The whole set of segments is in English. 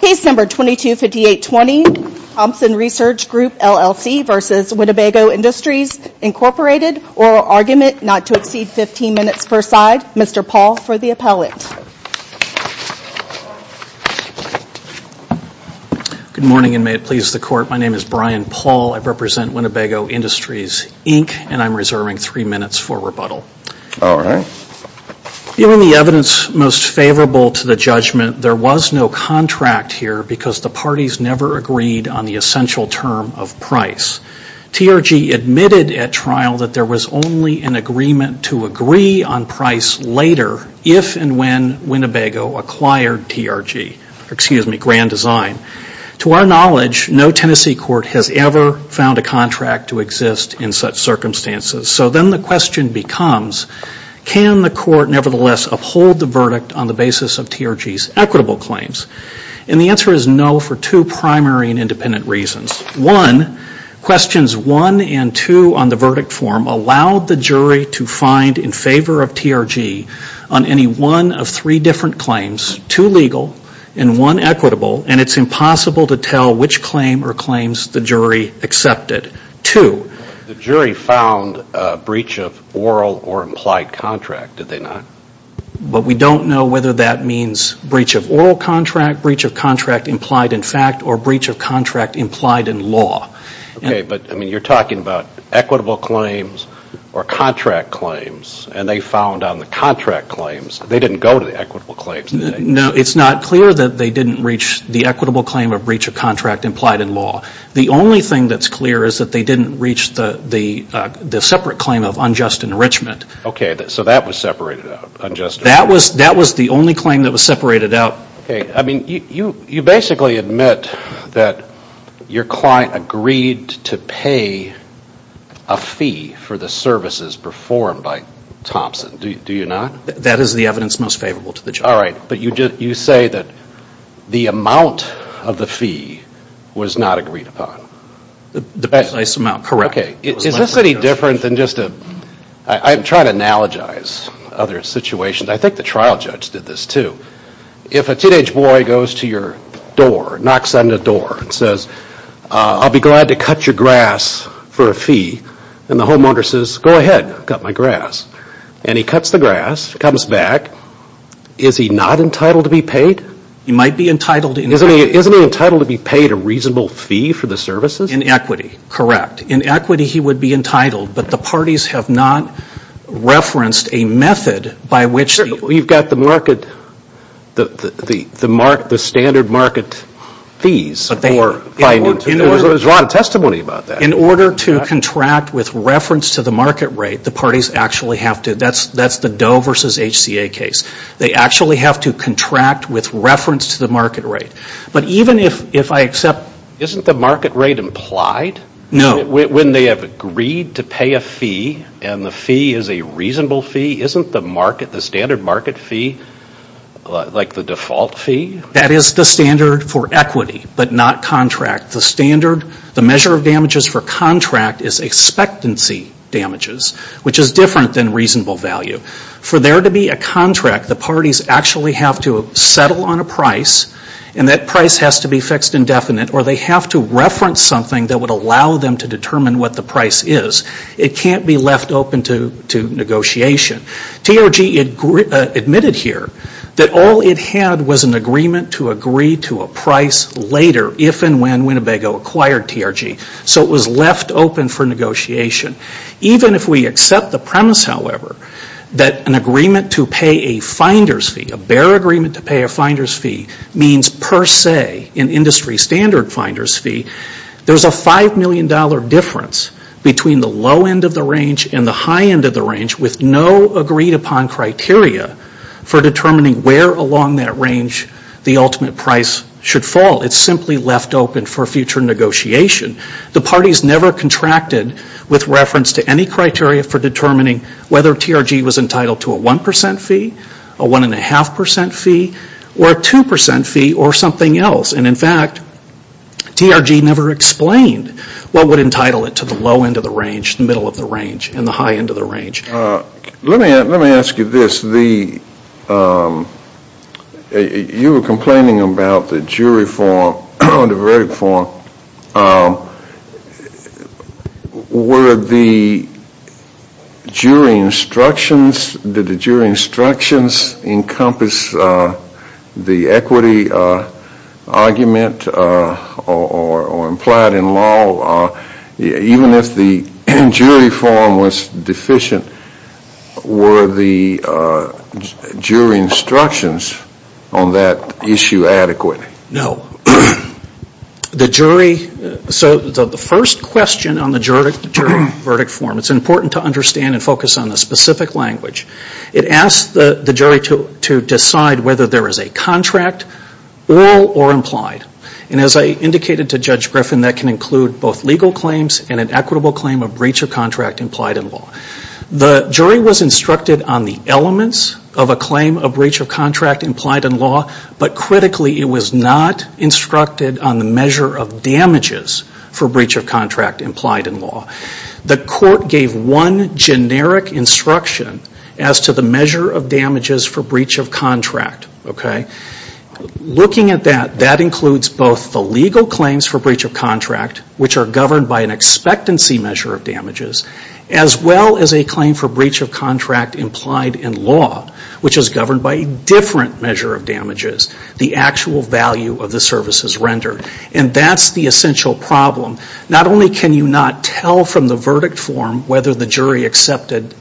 Case number 225820, Thompson Research Group LLC versus Winnebago Industries Incorporated, oral argument not to exceed 15 minutes per side. Mr. Paul for the appellant. Good morning and may it please the court. My name is Brian Paul. I represent Winnebago Industries Inc. and I'm reserving three minutes for rebuttal. All right. Given the evidence most favorable to the judgment, there was no contract here because the parties never agreed on the essential term of price. TRG admitted at trial that there was only an agreement to agree on price later if and when Winnebago acquired TRG, excuse me, Grand Design. To our knowledge, no Tennessee court has ever found a contract to exist in such uphold the verdict on the basis of TRG's equitable claims. And the answer is no for two primary and independent reasons. One, questions one and two on the verdict form allowed the jury to find in favor of TRG on any one of three different claims, two legal and one equitable, and it's impossible to tell which claim or claims the jury accepted. Two. The jury found a breach of oral or implied contract, did they not? But we don't know whether that means breach of oral contract, breach of contract implied in fact, or breach of contract implied in law. Okay, but I mean you're talking about equitable claims or contract claims and they found on the contract claims they didn't go to the equitable claims. No, it's not clear that they didn't reach the equitable claim of breach of contract implied in law. The only thing that's clear is that they didn't reach the separate claim of unjust enrichment. Okay, so that was separated out, unjust enrichment. That was the only claim that was separated out. Okay, I mean you basically admit that your client agreed to pay a fee for the services performed by Thompson, do you not? That is the evidence most favorable to the judge. Alright, but you say that the amount of the fee was not agreed upon. The precise amount, correct. Okay, is this any different than just a, I'm trying to analogize other situations, I think the trial judge did this too. If a teenage boy goes to your door, knocks on the door and says, I'll be glad to cut your grass for a fee, and the Is he not entitled to be paid? He might be entitled. Isn't he entitled to be paid a reasonable fee for the services? In equity, correct. In equity he would be entitled, but the parties have not referenced a method by which. You've got the market, the standard market fees for finding, there's a lot of testimony about that. In order to contract with reference to the market rate, the parties actually have to, that's the Doe versus HCA case. They actually have to contract with reference to the market rate. But even if I accept Isn't the market rate implied? No. When they have agreed to pay a fee and the fee is a reasonable fee, isn't the standard market fee like the default fee? That is the standard for equity, but not contract. The standard, the measure of damages for contract is expectancy damages, which is different than reasonable value. For there to be a contract, the parties actually have to settle on a price, and that price has to be fixed indefinite, or they have to reference something that would allow them to determine what the price is. It can't be left open to negotiation. TRG admitted here that all it had was an agreement to agree to a price later if and when Winnebago acquired TRG, so it was left open for negotiation. Even if we accept the premise, however, that an agreement to pay a finder's fee, a bear agreement to pay a finder's fee, means per se an industry standard finder's fee, there's a $5 million difference between the low end of the range and the high end of the range with no agreed upon criteria for determining where along that range the ultimate price should fall. It's simply left open for future negotiation. The parties never contracted with reference to any criteria for determining whether TRG was entitled to a 1 percent fee, a 1.5 percent fee, or a 2 percent fee or something else. And in fact, TRG never explained what would entitle it to the low end of the range, the middle of the range, and the high end of the range. Let me ask you this. You were complaining about the jury form, the verdict form. Were the jury instructions, did the jury instructions encompass the equity argument or implied in law? Even if the jury form was deficient, were the jury instructions on that issue adequate? No. The jury, so the first question on the jury verdict form, it's important to understand and focus on the specific language. It asks the jury to decide whether there is a contract, oral or implied. And as I indicated to Judge Griffin, that can include both legal claims and an equitable claim of breach of contract implied in law. The jury was instructed on the elements of a claim of breach of contract implied in law, but critically it was not instructed on the measure of damages for breach of contract implied in law. The court gave one generic instruction as to the measure of damages for breach of contract. Looking at that, that includes both the legal claims for breach of contract, which are governed by an expectancy measure of damages, as well as a claim for breach of contract implied in law, which is governed by a different measure of damages, the actual value of the services rendered. And that's the essential problem. Not only can you not tell from the verdict form whether the jury accepted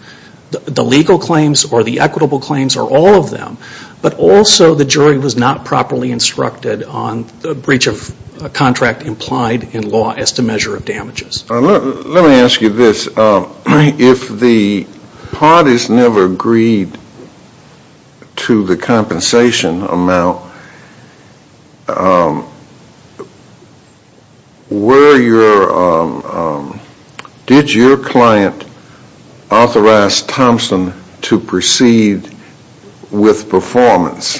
the legal claims or the equitable claims or all of them, but also the jury was not properly instructed on the breach of contract implied in law as to measure of damages. Let me ask you this. If the parties never agreed to the compensation amount, did your client authorize Thompson to proceed with performance?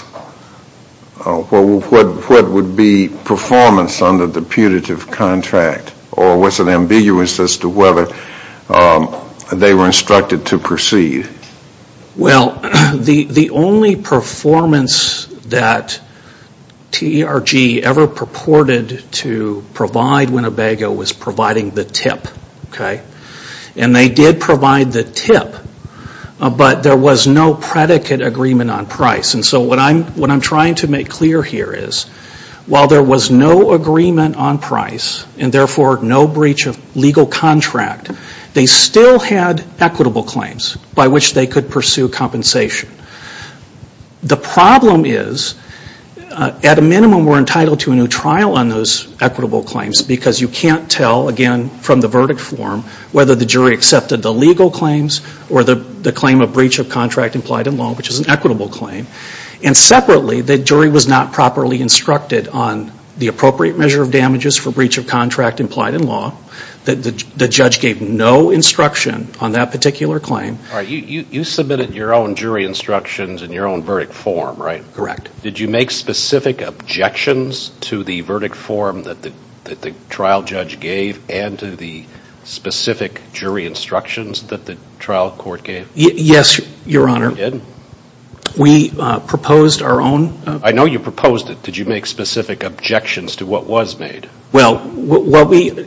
What would be performance under the putative contract? Or was it ambiguous as to whether they were instructed to proceed? Well, the only performance that T.E.R.G. ever purported to provide Winnebago was providing the tip. And they did provide the tip, but there was no predicate agreement on price. And so what I'm trying to make clear here is while there was no agreement on price and therefore no breach of legal contract, they still had equitable claims by which they could pursue compensation. The problem is at a minimum we're entitled to a new trial on those equitable claims because you can't tell, again, from the verdict form whether the jury accepted the legal claims or the claim of breach of contract implied in law, which is an equitable claim. And separately, the jury was not properly instructed on the appropriate measure of damages for breach of contract implied in law. The judge gave no instruction on that particular claim. All right. You submitted your own jury instructions in your own verdict form, right? Correct. Did you make specific objections to the verdict form that the trial judge gave and to the specific jury instructions that the trial court gave? Yes, Your Honor. You did? We proposed our own. I know you proposed it. Did you make specific objections to what was made? Well,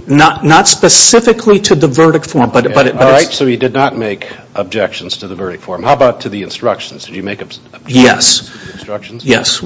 not specifically to the verdict form, but it's... All right. So you did not make objections to the verdict form. How about to the instructions? Did you make objections to the instructions? Yes. To the instructions? Yes.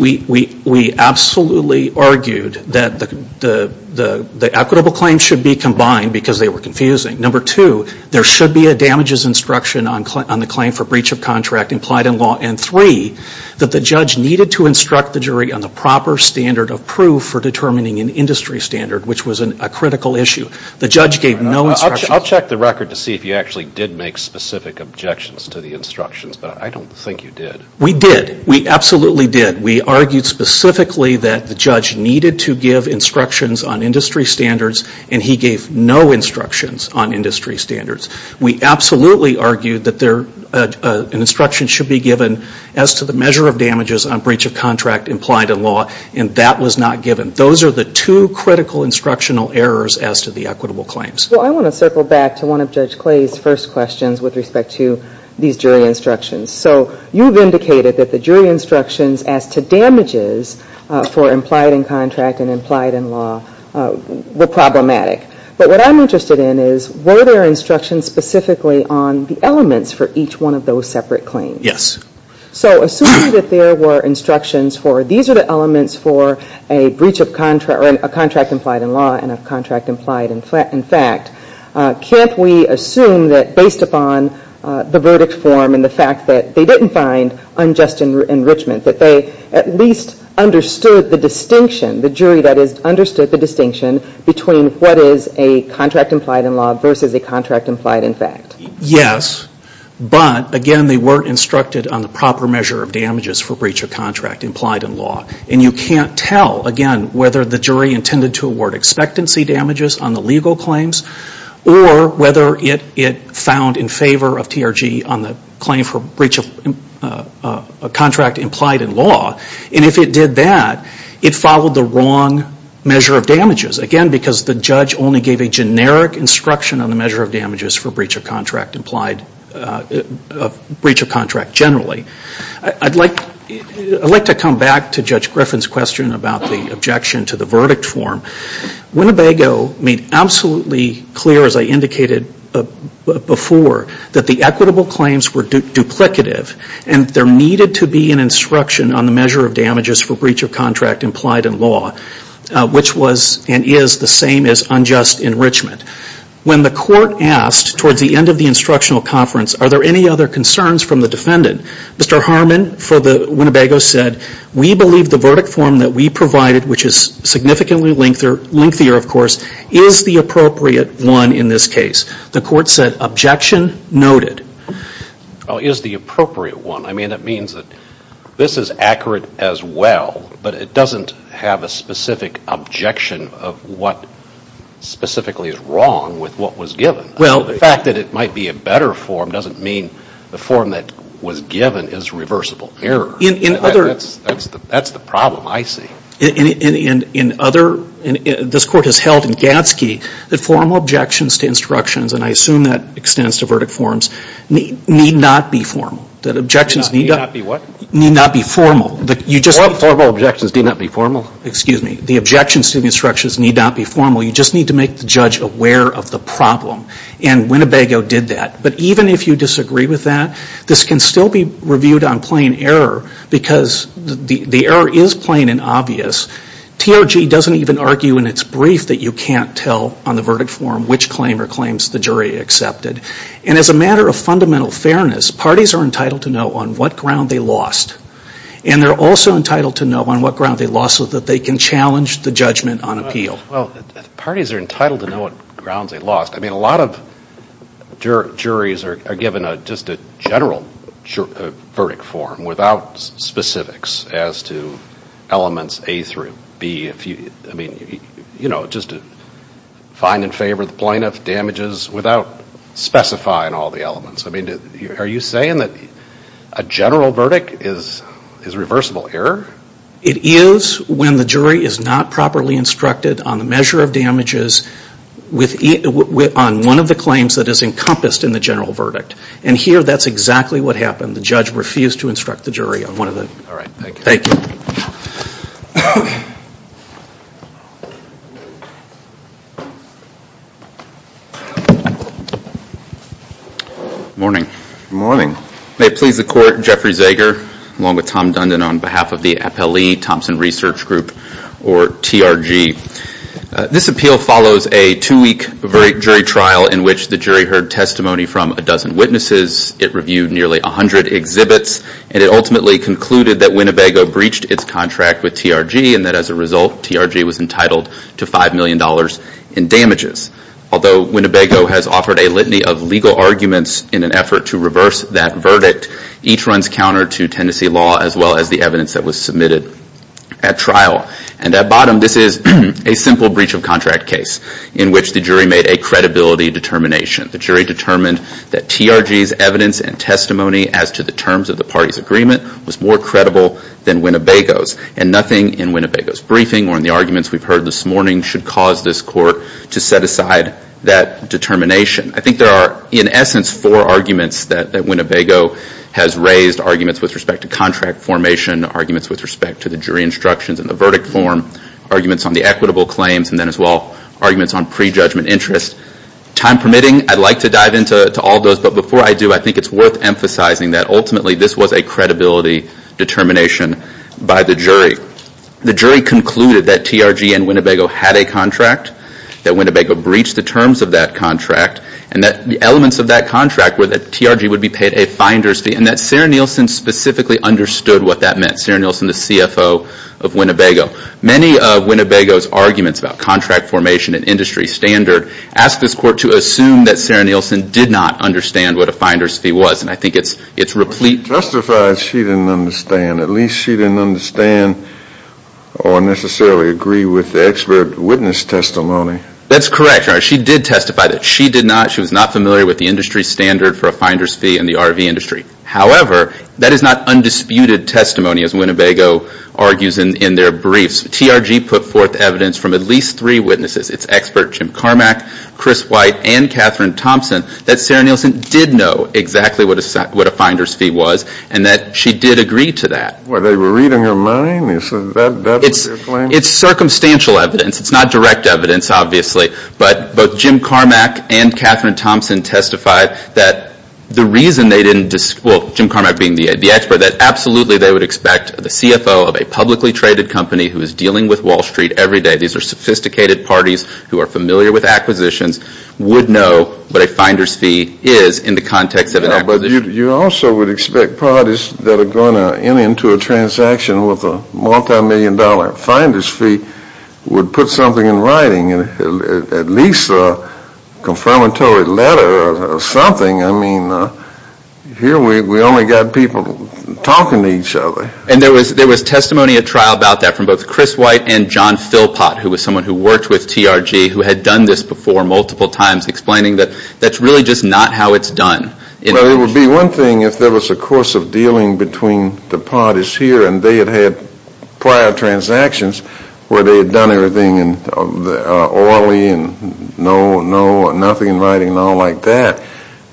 We absolutely argued that the equitable claims should be combined because they were confusing. Number two, there should be a damages instruction on the claim for breach of contract implied in law. And three, that the judge needed to instruct the jury on the proper standard of proof for determining an industry standard, which was a critical issue. The judge gave no instructions. All right. I'll check the record to see if you actually did make specific objections to the instructions, but I don't think you did. We did. We absolutely did. We argued specifically that the judge needed to give instructions on industry standards, and he gave no instructions on industry standards. We absolutely argued that an instruction should be given as to the measure of damages on breach of contract implied in law, and that was not given. Those are the two critical instructional errors as to the equitable claims. Well, I want to circle back to one of Judge Clay's first questions with respect to these claims. He indicated that the jury instructions as to damages for implied in contract and implied in law were problematic. But what I'm interested in is, were there instructions specifically on the elements for each one of those separate claims? Yes. So assuming that there were instructions for these are the elements for a breach of contract or a contract implied in law and a contract implied in fact, can't we assume that based upon the verdict form and the fact that they didn't find unjust enrichment, that they at least understood the distinction, the jury that has understood the distinction between what is a contract implied in law versus a contract implied in fact? Yes. But, again, they weren't instructed on the proper measure of damages for breach of contract implied in law. And you can't tell, again, whether the jury intended to award in favor of TRG on the claim for breach of contract implied in law. And if it did that, it followed the wrong measure of damages. Again, because the judge only gave a generic instruction on the measure of damages for breach of contract implied, breach of contract generally. I'd like to come back to Judge Griffin's question about the objection to the verdict form. Winnebago made absolutely clear, as I indicated before, that the equitable claims were duplicative and there needed to be an instruction on the measure of damages for breach of contract implied in law, which was and is the same as unjust enrichment. When the court asked towards the end of the instructional conference, are there any other concerns from the defendant, Mr. Harmon for Winnebago said, we believe the verdict form that we provided, which is significantly lengthier, of course, is the appropriate one in this case. The court said, objection noted. Well, is the appropriate one. I mean, it means that this is accurate as well, but it doesn't have a specific objection of what specifically is wrong with what was given. Well. The fact that it might be a better form doesn't mean the form that was given is reversible error. In other words. That's the problem, I see. In other, this court has held in Gadsky that formal objections to instructions, and I assume that extends to verdict forms, need not be formal. That objections need not be what? Need not be formal. Formal objections do not be formal? Excuse me. The objections to the instructions need not be formal. You just need to make the judge aware of the problem. And Winnebago did that. But even if you disagree with that, this can still be reviewed on plain error, because the error is plain and obvious. TRG doesn't even argue in its brief that you can't tell on the verdict form which claim or claims the jury accepted. And as a matter of fundamental fairness, parties are entitled to know on what ground they lost. And they're also entitled to know on what ground they lost so that they can challenge the judgment on appeal. Well, parties are entitled to know on what grounds they lost. I mean, a lot of juries are given just a general verdict form without specifics as to elements A through B. I mean, you know, just to find in favor of the plaintiff, damages, without specifying all the elements. I mean, are you saying that a general verdict is reversible error? It is when the jury is not properly instructed on the measure of damages on one of the claims that is encompassed in the general verdict. And here, that's exactly what happened. The judge refused to instruct the jury on one of them. All right. Thank you. Thank you. Good morning. Good morning. May it please the Court, Jeffrey Zeger, along with Tom Dundon, on behalf of the Appellee Thompson Research Group, or TRG. This appeal follows a two-week jury trial in which the jury heard testimony from a dozen witnesses. It reviewed nearly 100 exhibits, and it ultimately concluded that Winnebago breached its contract with TRG, and that as a result, TRG was entitled to $5 million in damages. Although Winnebago has offered a litany of legal arguments in an effort to reverse that verdict, each runs counter to Tennessee law as well as the evidence that was submitted at trial. And at bottom, this is a simple breach of contract case in which the jury made a credibility determination. The jury determined that TRG's evidence and testimony as to the terms of the party's agreement was more credible than Winnebago's, and nothing in Winnebago's briefing or in the arguments we've heard this morning should cause this Court to set aside that determination. I think there are, in essence, four arguments that Winnebago has raised, arguments with respect to contract formation, arguments with respect to the jury instructions and the verdict form, arguments on the equitable claims, and then as well, arguments on prejudgment interest. Time permitting, I'd like to dive into all those, but before I do, I think it's worth emphasizing that ultimately this was a credibility determination by the jury. The jury concluded that TRG and Winnebago had a contract, that Winnebago breached the terms of that contract, and that the elements of that contract were that TRG would be paid a finder's fee, and that Sarah Nielsen specifically understood what that meant. Sarah Nielsen, the CFO of Winnebago. Many of Winnebago's arguments about contract formation and industry standard ask this Court to assume that Sarah Nielsen did not understand what a finder's fee was, and I think it's replete... She testified she didn't understand, at least she didn't understand or necessarily agree with the expert witness testimony. That's correct. She did testify that she did not, she was not familiar with the industry standard for the RV industry. However, that is not undisputed testimony, as Winnebago argues in their briefs. TRG put forth evidence from at least three witnesses, its expert Jim Carmack, Chris White, and Catherine Thompson, that Sarah Nielsen did know exactly what a finder's fee was, and that she did agree to that. Were they reading her mind? It's circumstantial evidence. It's not direct evidence, obviously, but both Jim Carmack and Catherine Thompson testified that the reason they didn't, well, Jim Carmack being the expert, that absolutely they would expect the CFO of a publicly traded company who is dealing with Wall Street every day, these are sophisticated parties who are familiar with acquisitions, would know what a finder's fee is in the context of an acquisition. You also would expect parties that are going to enter into a transaction with a multi-million dollar finder's fee would put something in writing, at least a confirmatory letter, a something. I mean, here we only got people talking to each other. And there was testimony at trial about that from both Chris White and John Philpott, who was someone who worked with TRG, who had done this before multiple times, explaining that that's really just not how it's done. Well, it would be one thing if there was a course of dealing between the parties here and they had had prior transactions where they had done everything in Orly and no, no, nothing in writing and all like that,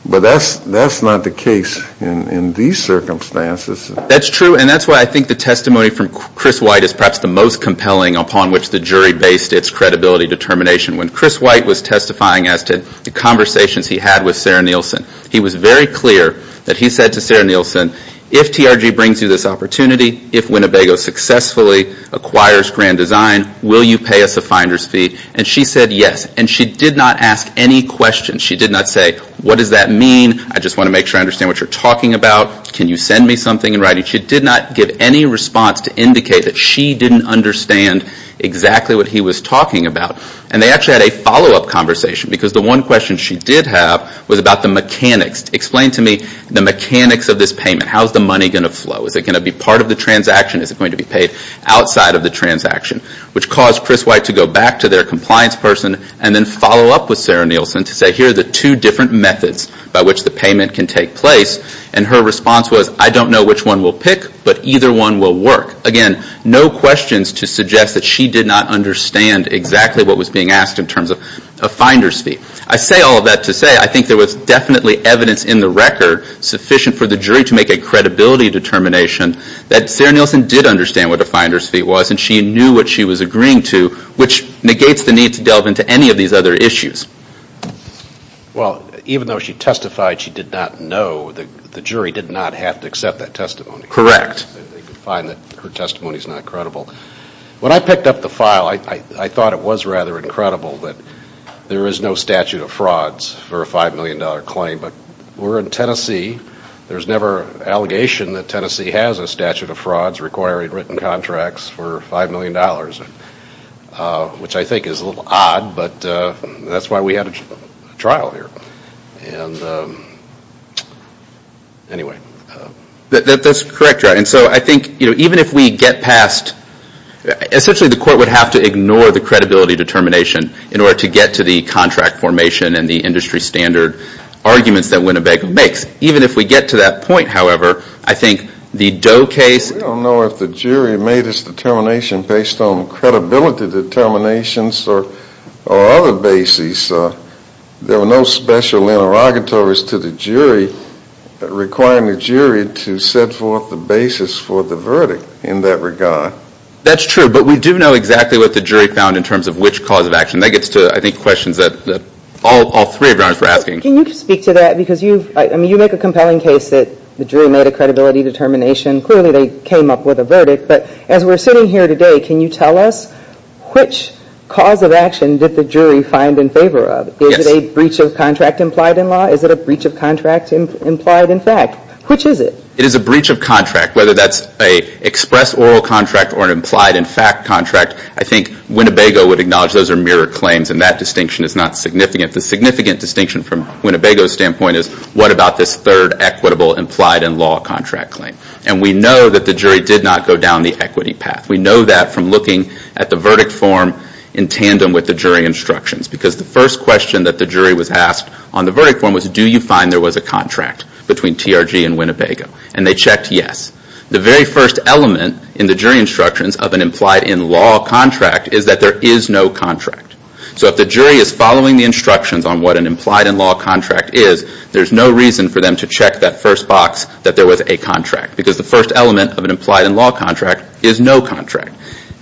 but that's not the case in these circumstances. That's true and that's why I think the testimony from Chris White is perhaps the most compelling upon which the jury based its credibility determination. When Chris White was testifying as to the conversations he had with Sarah Nielsen, he was very clear that he said to Sarah Nielsen, if TRG brings you this opportunity, if Winnebago successfully acquires Grand Design, will you pay us a finder's fee? And she said yes and she did not ask any questions. She did not say, what does that mean? I just want to make sure I understand what you're talking about. Can you send me something in writing? She did not give any response to indicate that she didn't understand exactly what he was talking about. And they actually had a follow-up conversation because the one question she did have was about the mechanics. Explain to me the mechanics of this payment. How is the money going to flow? Is it going to be part of the transaction? Is it going to be paid outside of the transaction? Which caused Chris White to go back to their compliance person and then follow up with Sarah Nielsen to say, here are the two different methods by which the payment can take place. And her response was, I don't know which one we'll pick, but either one will work. Again, no questions to suggest that she did not understand exactly what was being asked in terms of a finder's fee. I say all of that to say, I think there was definitely evidence in the record sufficient for the jury to make a credibility determination that Sarah Nielsen did understand what a finder's fee was and she knew what she was agreeing to, which negates the need to delve into any of these other issues. Well, even though she testified she did not know, the jury did not have to accept that testimony. Correct. They could find that her testimony is not credible. When I picked up the file, I thought it was rather incredible that there is no statute of frauds for a $5 million claim. But we're in Tennessee. There's never an allegation that Tennessee has a statute of frauds requiring written contracts for $5 million, which I think is a little odd, but that's why we had a trial here. Anyway. That's correct. And so I think even if we get past, essentially the court would have to ignore the credibility determination in order to get to the contract formation and the industry standard arguments that Winnebago makes. Even if we get to that point, however, I think the Doe case We don't know if the jury made its determination based on credibility determinations or other bases. There were no special interrogatories to the jury requiring the jury to set forth the basis for the verdict in that regard. That's true, but we do know exactly what the jury found in terms of which cause of action. That gets to, I think, questions that all three of your Honors were asking. Can you speak to that? Because you make a compelling case that the jury made a credibility determination. Clearly, they came up with a verdict, but as we're sitting here today, can you tell us which cause of action did the jury find in favor of? Is it a breach of contract implied in law? Is it a breach of contract implied in fact? Which is it? It is a breach of contract, whether that's an express oral contract or an implied in fact contract. I think Winnebago would acknowledge those are mirror claims and that distinction is not significant. The significant distinction from Winnebago's standpoint is what about this third equitable implied in law contract claim? We know that the jury did not go down the equity path. We know that from looking at the verdict form in tandem with the jury instructions. Because the first question that the jury was asked on the verdict form was, do you find there was a contract between TRG and Winnebago? They checked yes. The very first element in the jury instructions of an implied in law contract is that there is no contract. If the jury is following the instructions on what an implied in law contract is, there's no reason for them to check that first box that there was a contract. Because the first element of an implied in law contract is no contract.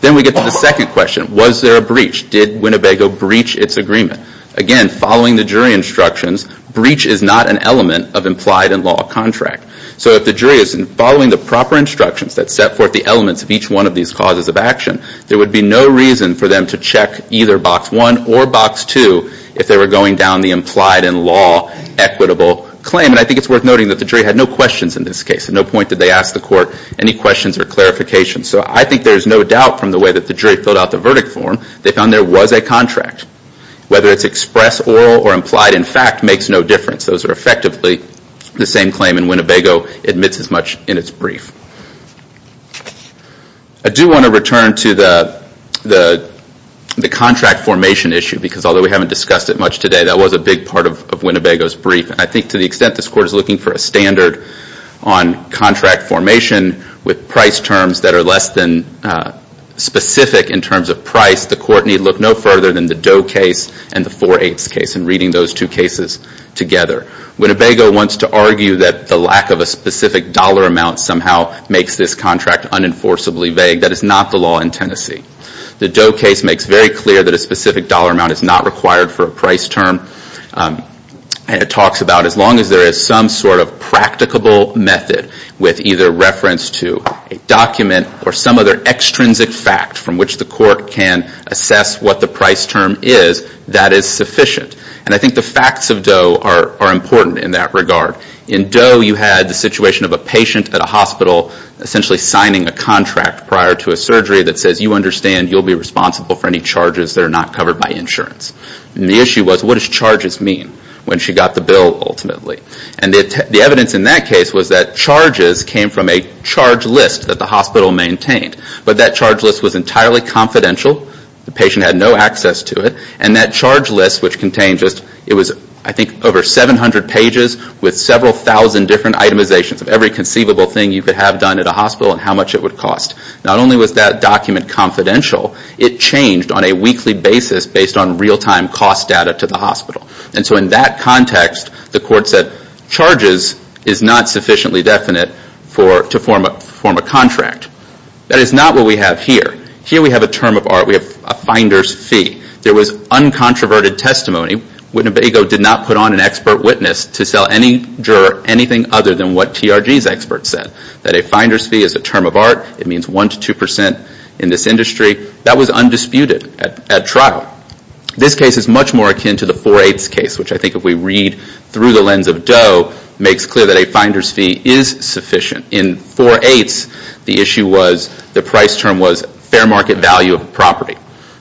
Then we get to the second question. Was there a breach? Did Winnebago breach its agreement? Again, following the jury instructions, breach is not an element of implied in law contract. So if the jury is following the proper instructions that set forth the elements of each one of these causes of action, there would be no reason for them to check either box one or box two if they were going down the implied in law equitable claim. And I think it's worth noting that the jury had no questions in this case. At no point did they ask the court any questions or clarifications. So I think there's no doubt from the way that the jury filled out the verdict form, they found there was a contract. Whether it's express, oral, or implied in fact makes no difference. Those are effectively the same claim and Winnebago admits as much in its brief. I do want to return to the contract formation issue because although we haven't discussed it much today, that was a big part of Winnebago's brief. I think to the extent this court is looking for a standard on contract formation with price terms that are less than specific in terms of price, the court need look no further than the Doe case and the 4-8 case and reading those two cases together. Winnebago wants to argue that the lack of a specific dollar amount somehow makes this contract unenforceably vague. That is not the law in Tennessee. The Doe case makes very clear that a specific dollar amount is not required for a price term and it talks about as long as there is some sort of practicable method with either reference to a document or some other extrinsic fact from which the court can assess what the price term is, that is sufficient. I think the facts of Doe are important in that regard. In Doe, you had the situation of a patient at a hospital essentially signing a contract prior to a surgery that says you understand you will be responsible for any charges that are not covered by insurance. The issue was what does charges mean when she got the bill ultimately? The evidence in that case was that charges came from a charge list that the hospital maintained, but that charge list was entirely confidential, the patient had no access to it. And that charge list, which contained just, it was I think over 700 pages with several thousand different itemizations of every conceivable thing you could have done at a hospital and how much it would cost. Not only was that document confidential, it changed on a weekly basis based on real-time cost data to the hospital. And so in that context, the court said charges is not sufficiently definite to form a contract. That is not what we have here. Here we have a term of art, we have a finder's fee. There was uncontroverted testimony, Wittenbego did not put on an expert witness to sell any juror anything other than what TRG's expert said. That a finder's fee is a term of art, it means one to two percent in this industry. That was undisputed at trial. This case is much more akin to the 4-8's case, which I think if we read through the lens of Doe, makes clear that a finder's fee is sufficient. In 4-8's, the issue was the price term was fair market value of property.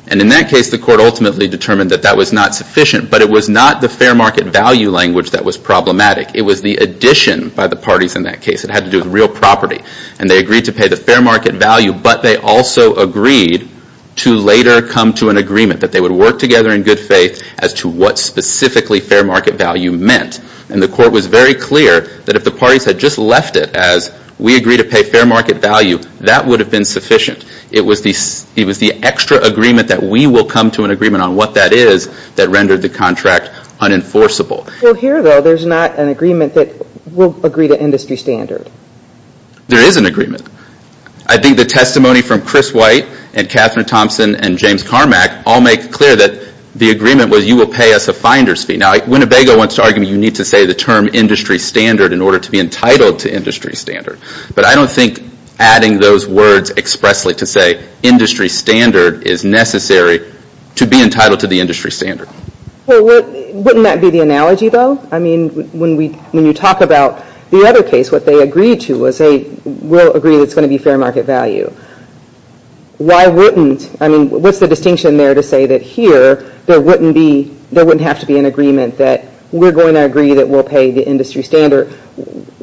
And in that case, the court ultimately determined that that was not sufficient. But it was not the fair market value language that was problematic, it was the addition by the parties in that case. It had to do with real property. And they agreed to pay the fair market value, but they also agreed to later come to an agreement that they would work together in good faith as to what specifically fair market value meant. And the court was very clear that if the parties had just left it as we agree to pay fair market value, that would have been sufficient. It was the extra agreement that we will come to an agreement on what that is that rendered the contract unenforceable. Well, here though, there's not an agreement that we'll agree to industry standard. There is an agreement. I think the testimony from Chris White and Catherine Thompson and James Carmack all make clear that the agreement was you will pay us a finder's fee. Now, Winnebago wants to argue that you need to say the term industry standard in order to be entitled to industry standard. But I don't think adding those words expressly to say industry standard is necessary to be entitled to the industry standard. Well, wouldn't that be the analogy though? I mean, when you talk about the other case, what they agreed to was they will agree that it's going to be fair market value. Why wouldn't, I mean, what's the distinction there to say that here there wouldn't have to be an agreement that we're going to agree that we'll pay the industry standard.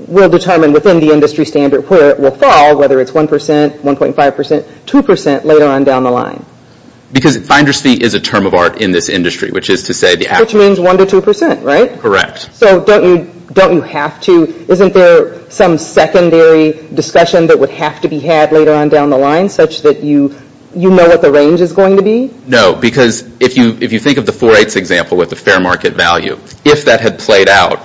We'll determine within the industry standard where it will fall, whether it's 1%, 1.5%, 2% later on down the line. Because finder's fee is a term of art in this industry, which is to say the actual. Which means 1 to 2%, right? Correct. So don't you have to, isn't there some secondary discussion that would have to be had later on down the line such that you know what the range is going to be? No, because if you think of the 4-8's example with the fair market value, if that had played out,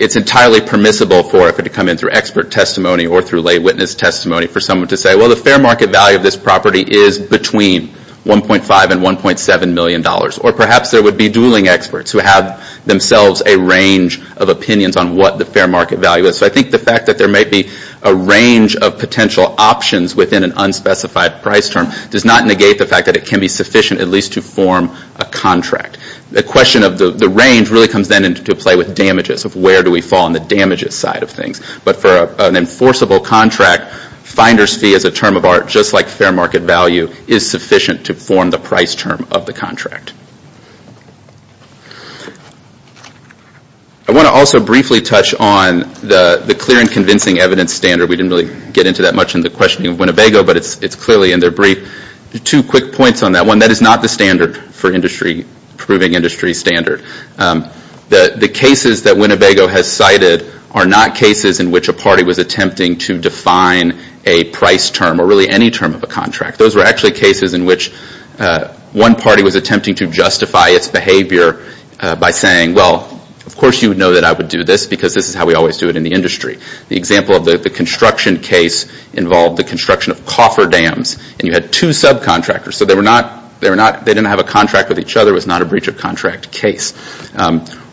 it's entirely permissible for it to come in through expert testimony or through lay witness testimony for someone to say, well, the fair market value of this property is between $1.5 and $1.7 million. Or perhaps there would be dueling experts who have themselves a range of opinions on what the fair market value is. So I think the fact that there may be a range of potential options within an unspecified price term does not negate the fact that it can be sufficient at least to form a contract. The question of the range really comes then into play with damages of where do we fall on the damages side of things. But for an enforceable contract, finder's fee is a term of art just like fair market value is sufficient to form the price term of the contract. I want to also briefly touch on the clear and convincing evidence standard. We didn't really get into that much in the questioning of Winnebago, but it's clearly in their brief. Two quick points on that. One, that is not the standard for proving industry standard. The cases that Winnebago has cited are not cases in which a party was attempting to define a price term or really any term of a contract. Those were actually cases in which one party was attempting to justify its behavior by saying, well, of course you would know that I would do this because this is how we always do it in the industry. The example of the construction case involved the construction of coffer dams, and you had two subcontractors, so they didn't have a contract with each other, it was not a breach of contract case.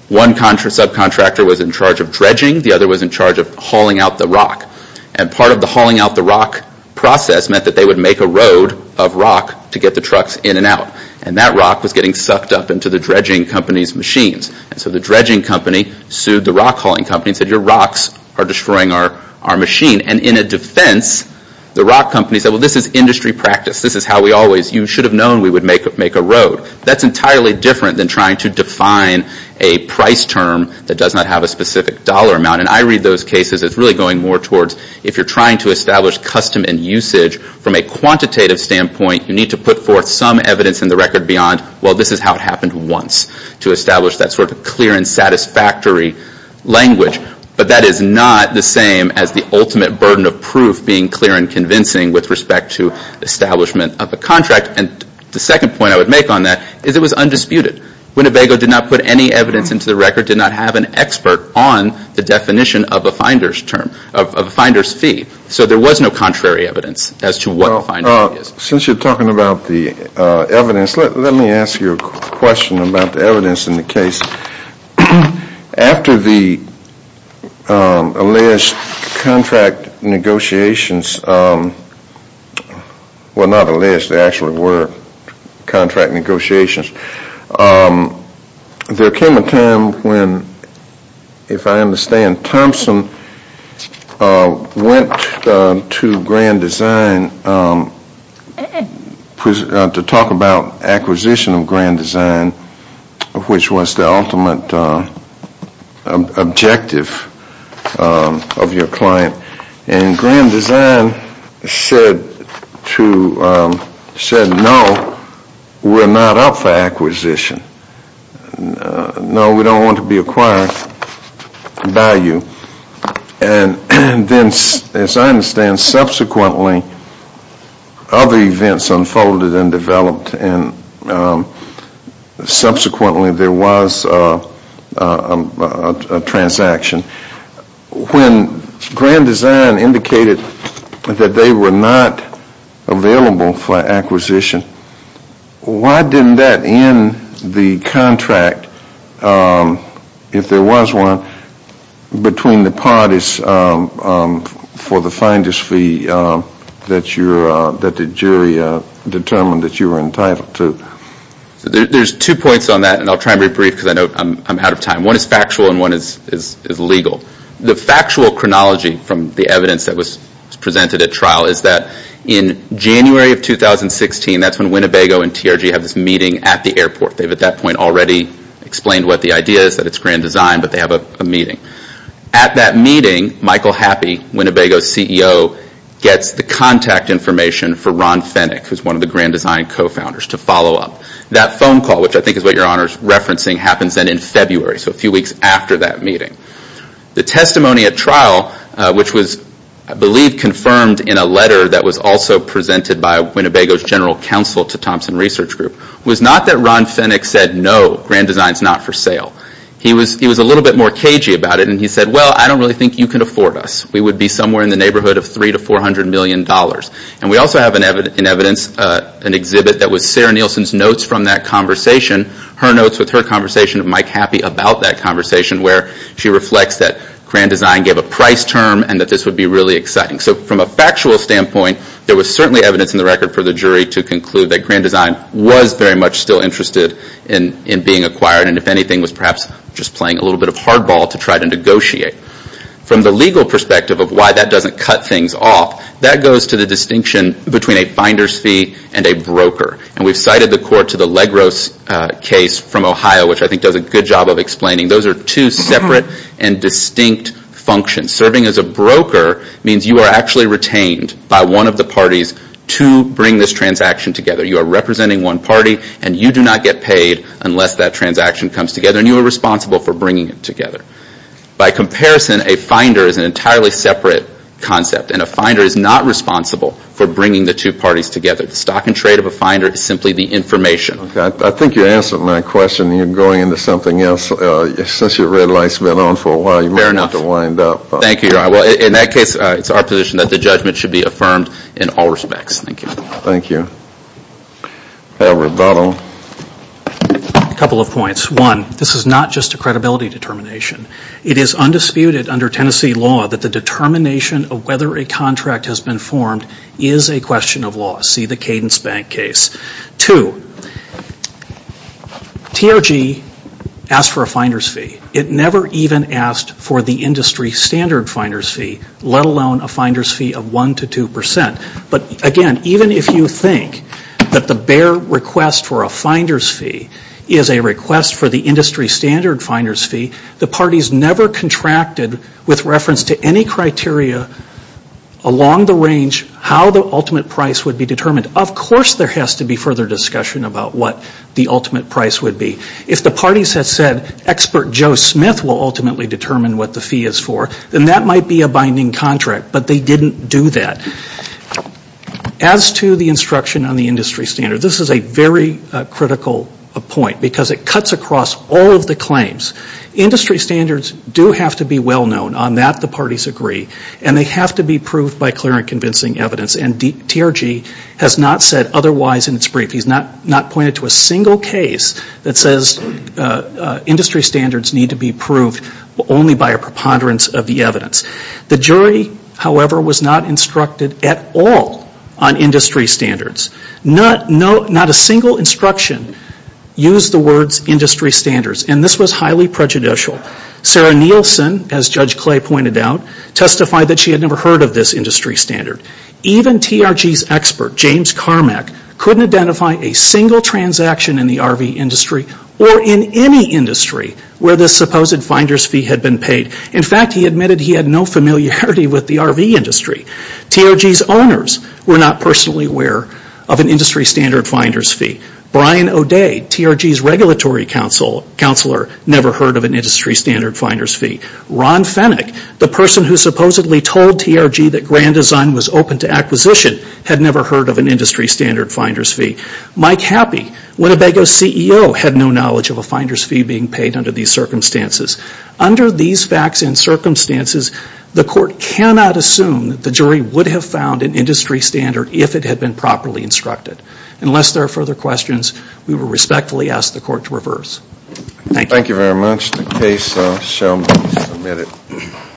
One subcontractor was in charge of dredging, the other was in charge of hauling out the rock. And part of the hauling out the rock process meant that they would make a road of rock to get the trucks in and out. And that rock was getting sucked up into the dredging company's machines. So the dredging company sued the rock hauling company and said, your rocks are destroying our machine. And in a defense, the rock company said, well, this is industry practice. This is how we always, you should have known we would make a road. That's entirely different than trying to define a price term that does not have a specific dollar amount. And I read those cases as really going more towards, if you're trying to establish custom and usage from a quantitative standpoint, you need to put forth some evidence in the record beyond, well, this is how it happened once, to establish that sort of clear and satisfactory language. But that is not the same as the ultimate burden of proof being clear and convincing with respect to establishment of a contract. And the second point I would make on that is it was undisputed. Winnebago did not put any evidence into the record, did not have an expert on the definition of a finder's term, of a finder's fee. So there was no contrary evidence as to what a finder's fee is. Well, since you're talking about the evidence, let me ask you a question about the evidence in the case. After the alleged contract negotiations, well, not alleged, they actually were contract negotiations, there came a time when, if I understand, Thompson went to Grand Design to talk about acquisition of Grand Design, which was the ultimate objective of your client. And Grand Design said, no, we're not up for acquisition, no, we don't want to be acquired by you. And then, as I understand, subsequently other events unfolded and developed and subsequently there was a transaction. When Grand Design indicated that they were not available for acquisition, why didn't that end the contract, if there was one, between the parties for the finder's fee that the jury determined that you were entitled to? There's two points on that and I'll try and be brief because I know I'm out of time. One is factual and one is legal. The factual chronology from the evidence that was presented at trial is that in January of 2016, that's when Winnebago and TRG have this meeting at the airport. They've at that point already explained what the idea is, that it's Grand Design, but they have a meeting. At that meeting, Michael Happy, Winnebago's CEO, gets the contact information for Ron Fenwick, who's one of the Grand Design co-founders, to follow up. That phone call, which I think is what your Honor is referencing, happens then in February, so a few weeks after that meeting. The testimony at trial, which was, I believe, confirmed in a letter that was also presented by Winnebago's General Counsel to Thompson Research Group, was not that Ron Fenwick said, no, Grand Design's not for sale. He was a little bit more cagey about it and he said, well, I don't really think you can afford us. We would be somewhere in the neighborhood of $300 to $400 million. We also have in evidence an exhibit that was Sarah Nielsen's notes from that conversation, her notes with her conversation with Mike Happy about that conversation, where she reflects that Grand Design gave a price term and that this would be really exciting. From a factual standpoint, there was certainly evidence in the record for the jury to conclude that Grand Design was very much still interested in being acquired and, if anything, was perhaps just playing a little bit of hardball to try to negotiate. From the legal perspective of why that doesn't cut things off, that goes to the distinction between a finder's fee and a broker. We've cited the court to the Legros case from Ohio, which I think does a good job of explaining those are two separate and distinct functions. Serving as a broker means you are actually retained by one of the parties to bring this transaction together. You are representing one party and you do not get paid unless that transaction comes together and you are responsible for bringing it together. By comparison, a finder is an entirely separate concept and a finder is not responsible for bringing the two parties together. The stock and trade of a finder is simply the information. I think you answered my question. You're going into something else. Since your red light has been on for a while, you might want to wind up. In that case, it's our position that the judgment should be affirmed in all respects. Thank you. Thank you. Edward Buttle. A couple of points. One, this is not just a credibility determination. It is undisputed under Tennessee law that the determination of whether a contract has been formed is a question of law. See the Cadence Bank case. Two, TRG asked for a finder's fee. It never even asked for the industry standard finder's fee, let alone a finder's fee of one to two percent. But again, even if you think that the bare request for a finder's fee is a request for the industry standard finder's fee, the parties never contracted with reference to any criteria along the range how the ultimate price would be determined. Of course there has to be further discussion about what the ultimate price would be. If the parties had said, expert Joe Smith will ultimately determine what the fee is for, then that might be a binding contract. But they didn't do that. As to the instruction on the industry standard, this is a very critical point because it cuts across all of the claims. Industry standards do have to be well known. On that, the parties agree. And they have to be proved by clear and convincing evidence. And TRG has not said otherwise in its brief. He has not pointed to a single case that says industry standards need to be proved only by a preponderance of the evidence. The jury, however, was not instructed at all on industry standards. Not a single instruction used the words industry standards. And this was highly prejudicial. Sarah Nielsen, as Judge Clay pointed out, testified that she had never heard of this industry standard. Even TRG's expert, James Carmack, couldn't identify a single transaction in the RV industry or in any industry where this supposed finder's fee had been paid. In fact, he admitted he had no familiarity with the RV industry. TRG's owners were not personally aware of an industry standard finder's fee. Brian O'Day, TRG's regulatory counselor, never heard of an industry standard finder's fee. Ron Fennick, the person who supposedly told TRG that Grand Design was open to acquisition, had never heard of an industry standard finder's fee. Mike Happi, Winnebago's CEO, had no knowledge of a finder's fee being paid under these circumstances. Under these facts and circumstances, the court cannot assume that the jury would have found an industry standard if it had been properly instructed. Unless there are further questions, we will respectfully ask the court to reverse. Thank you. Thank you very much. The case shall be submitted.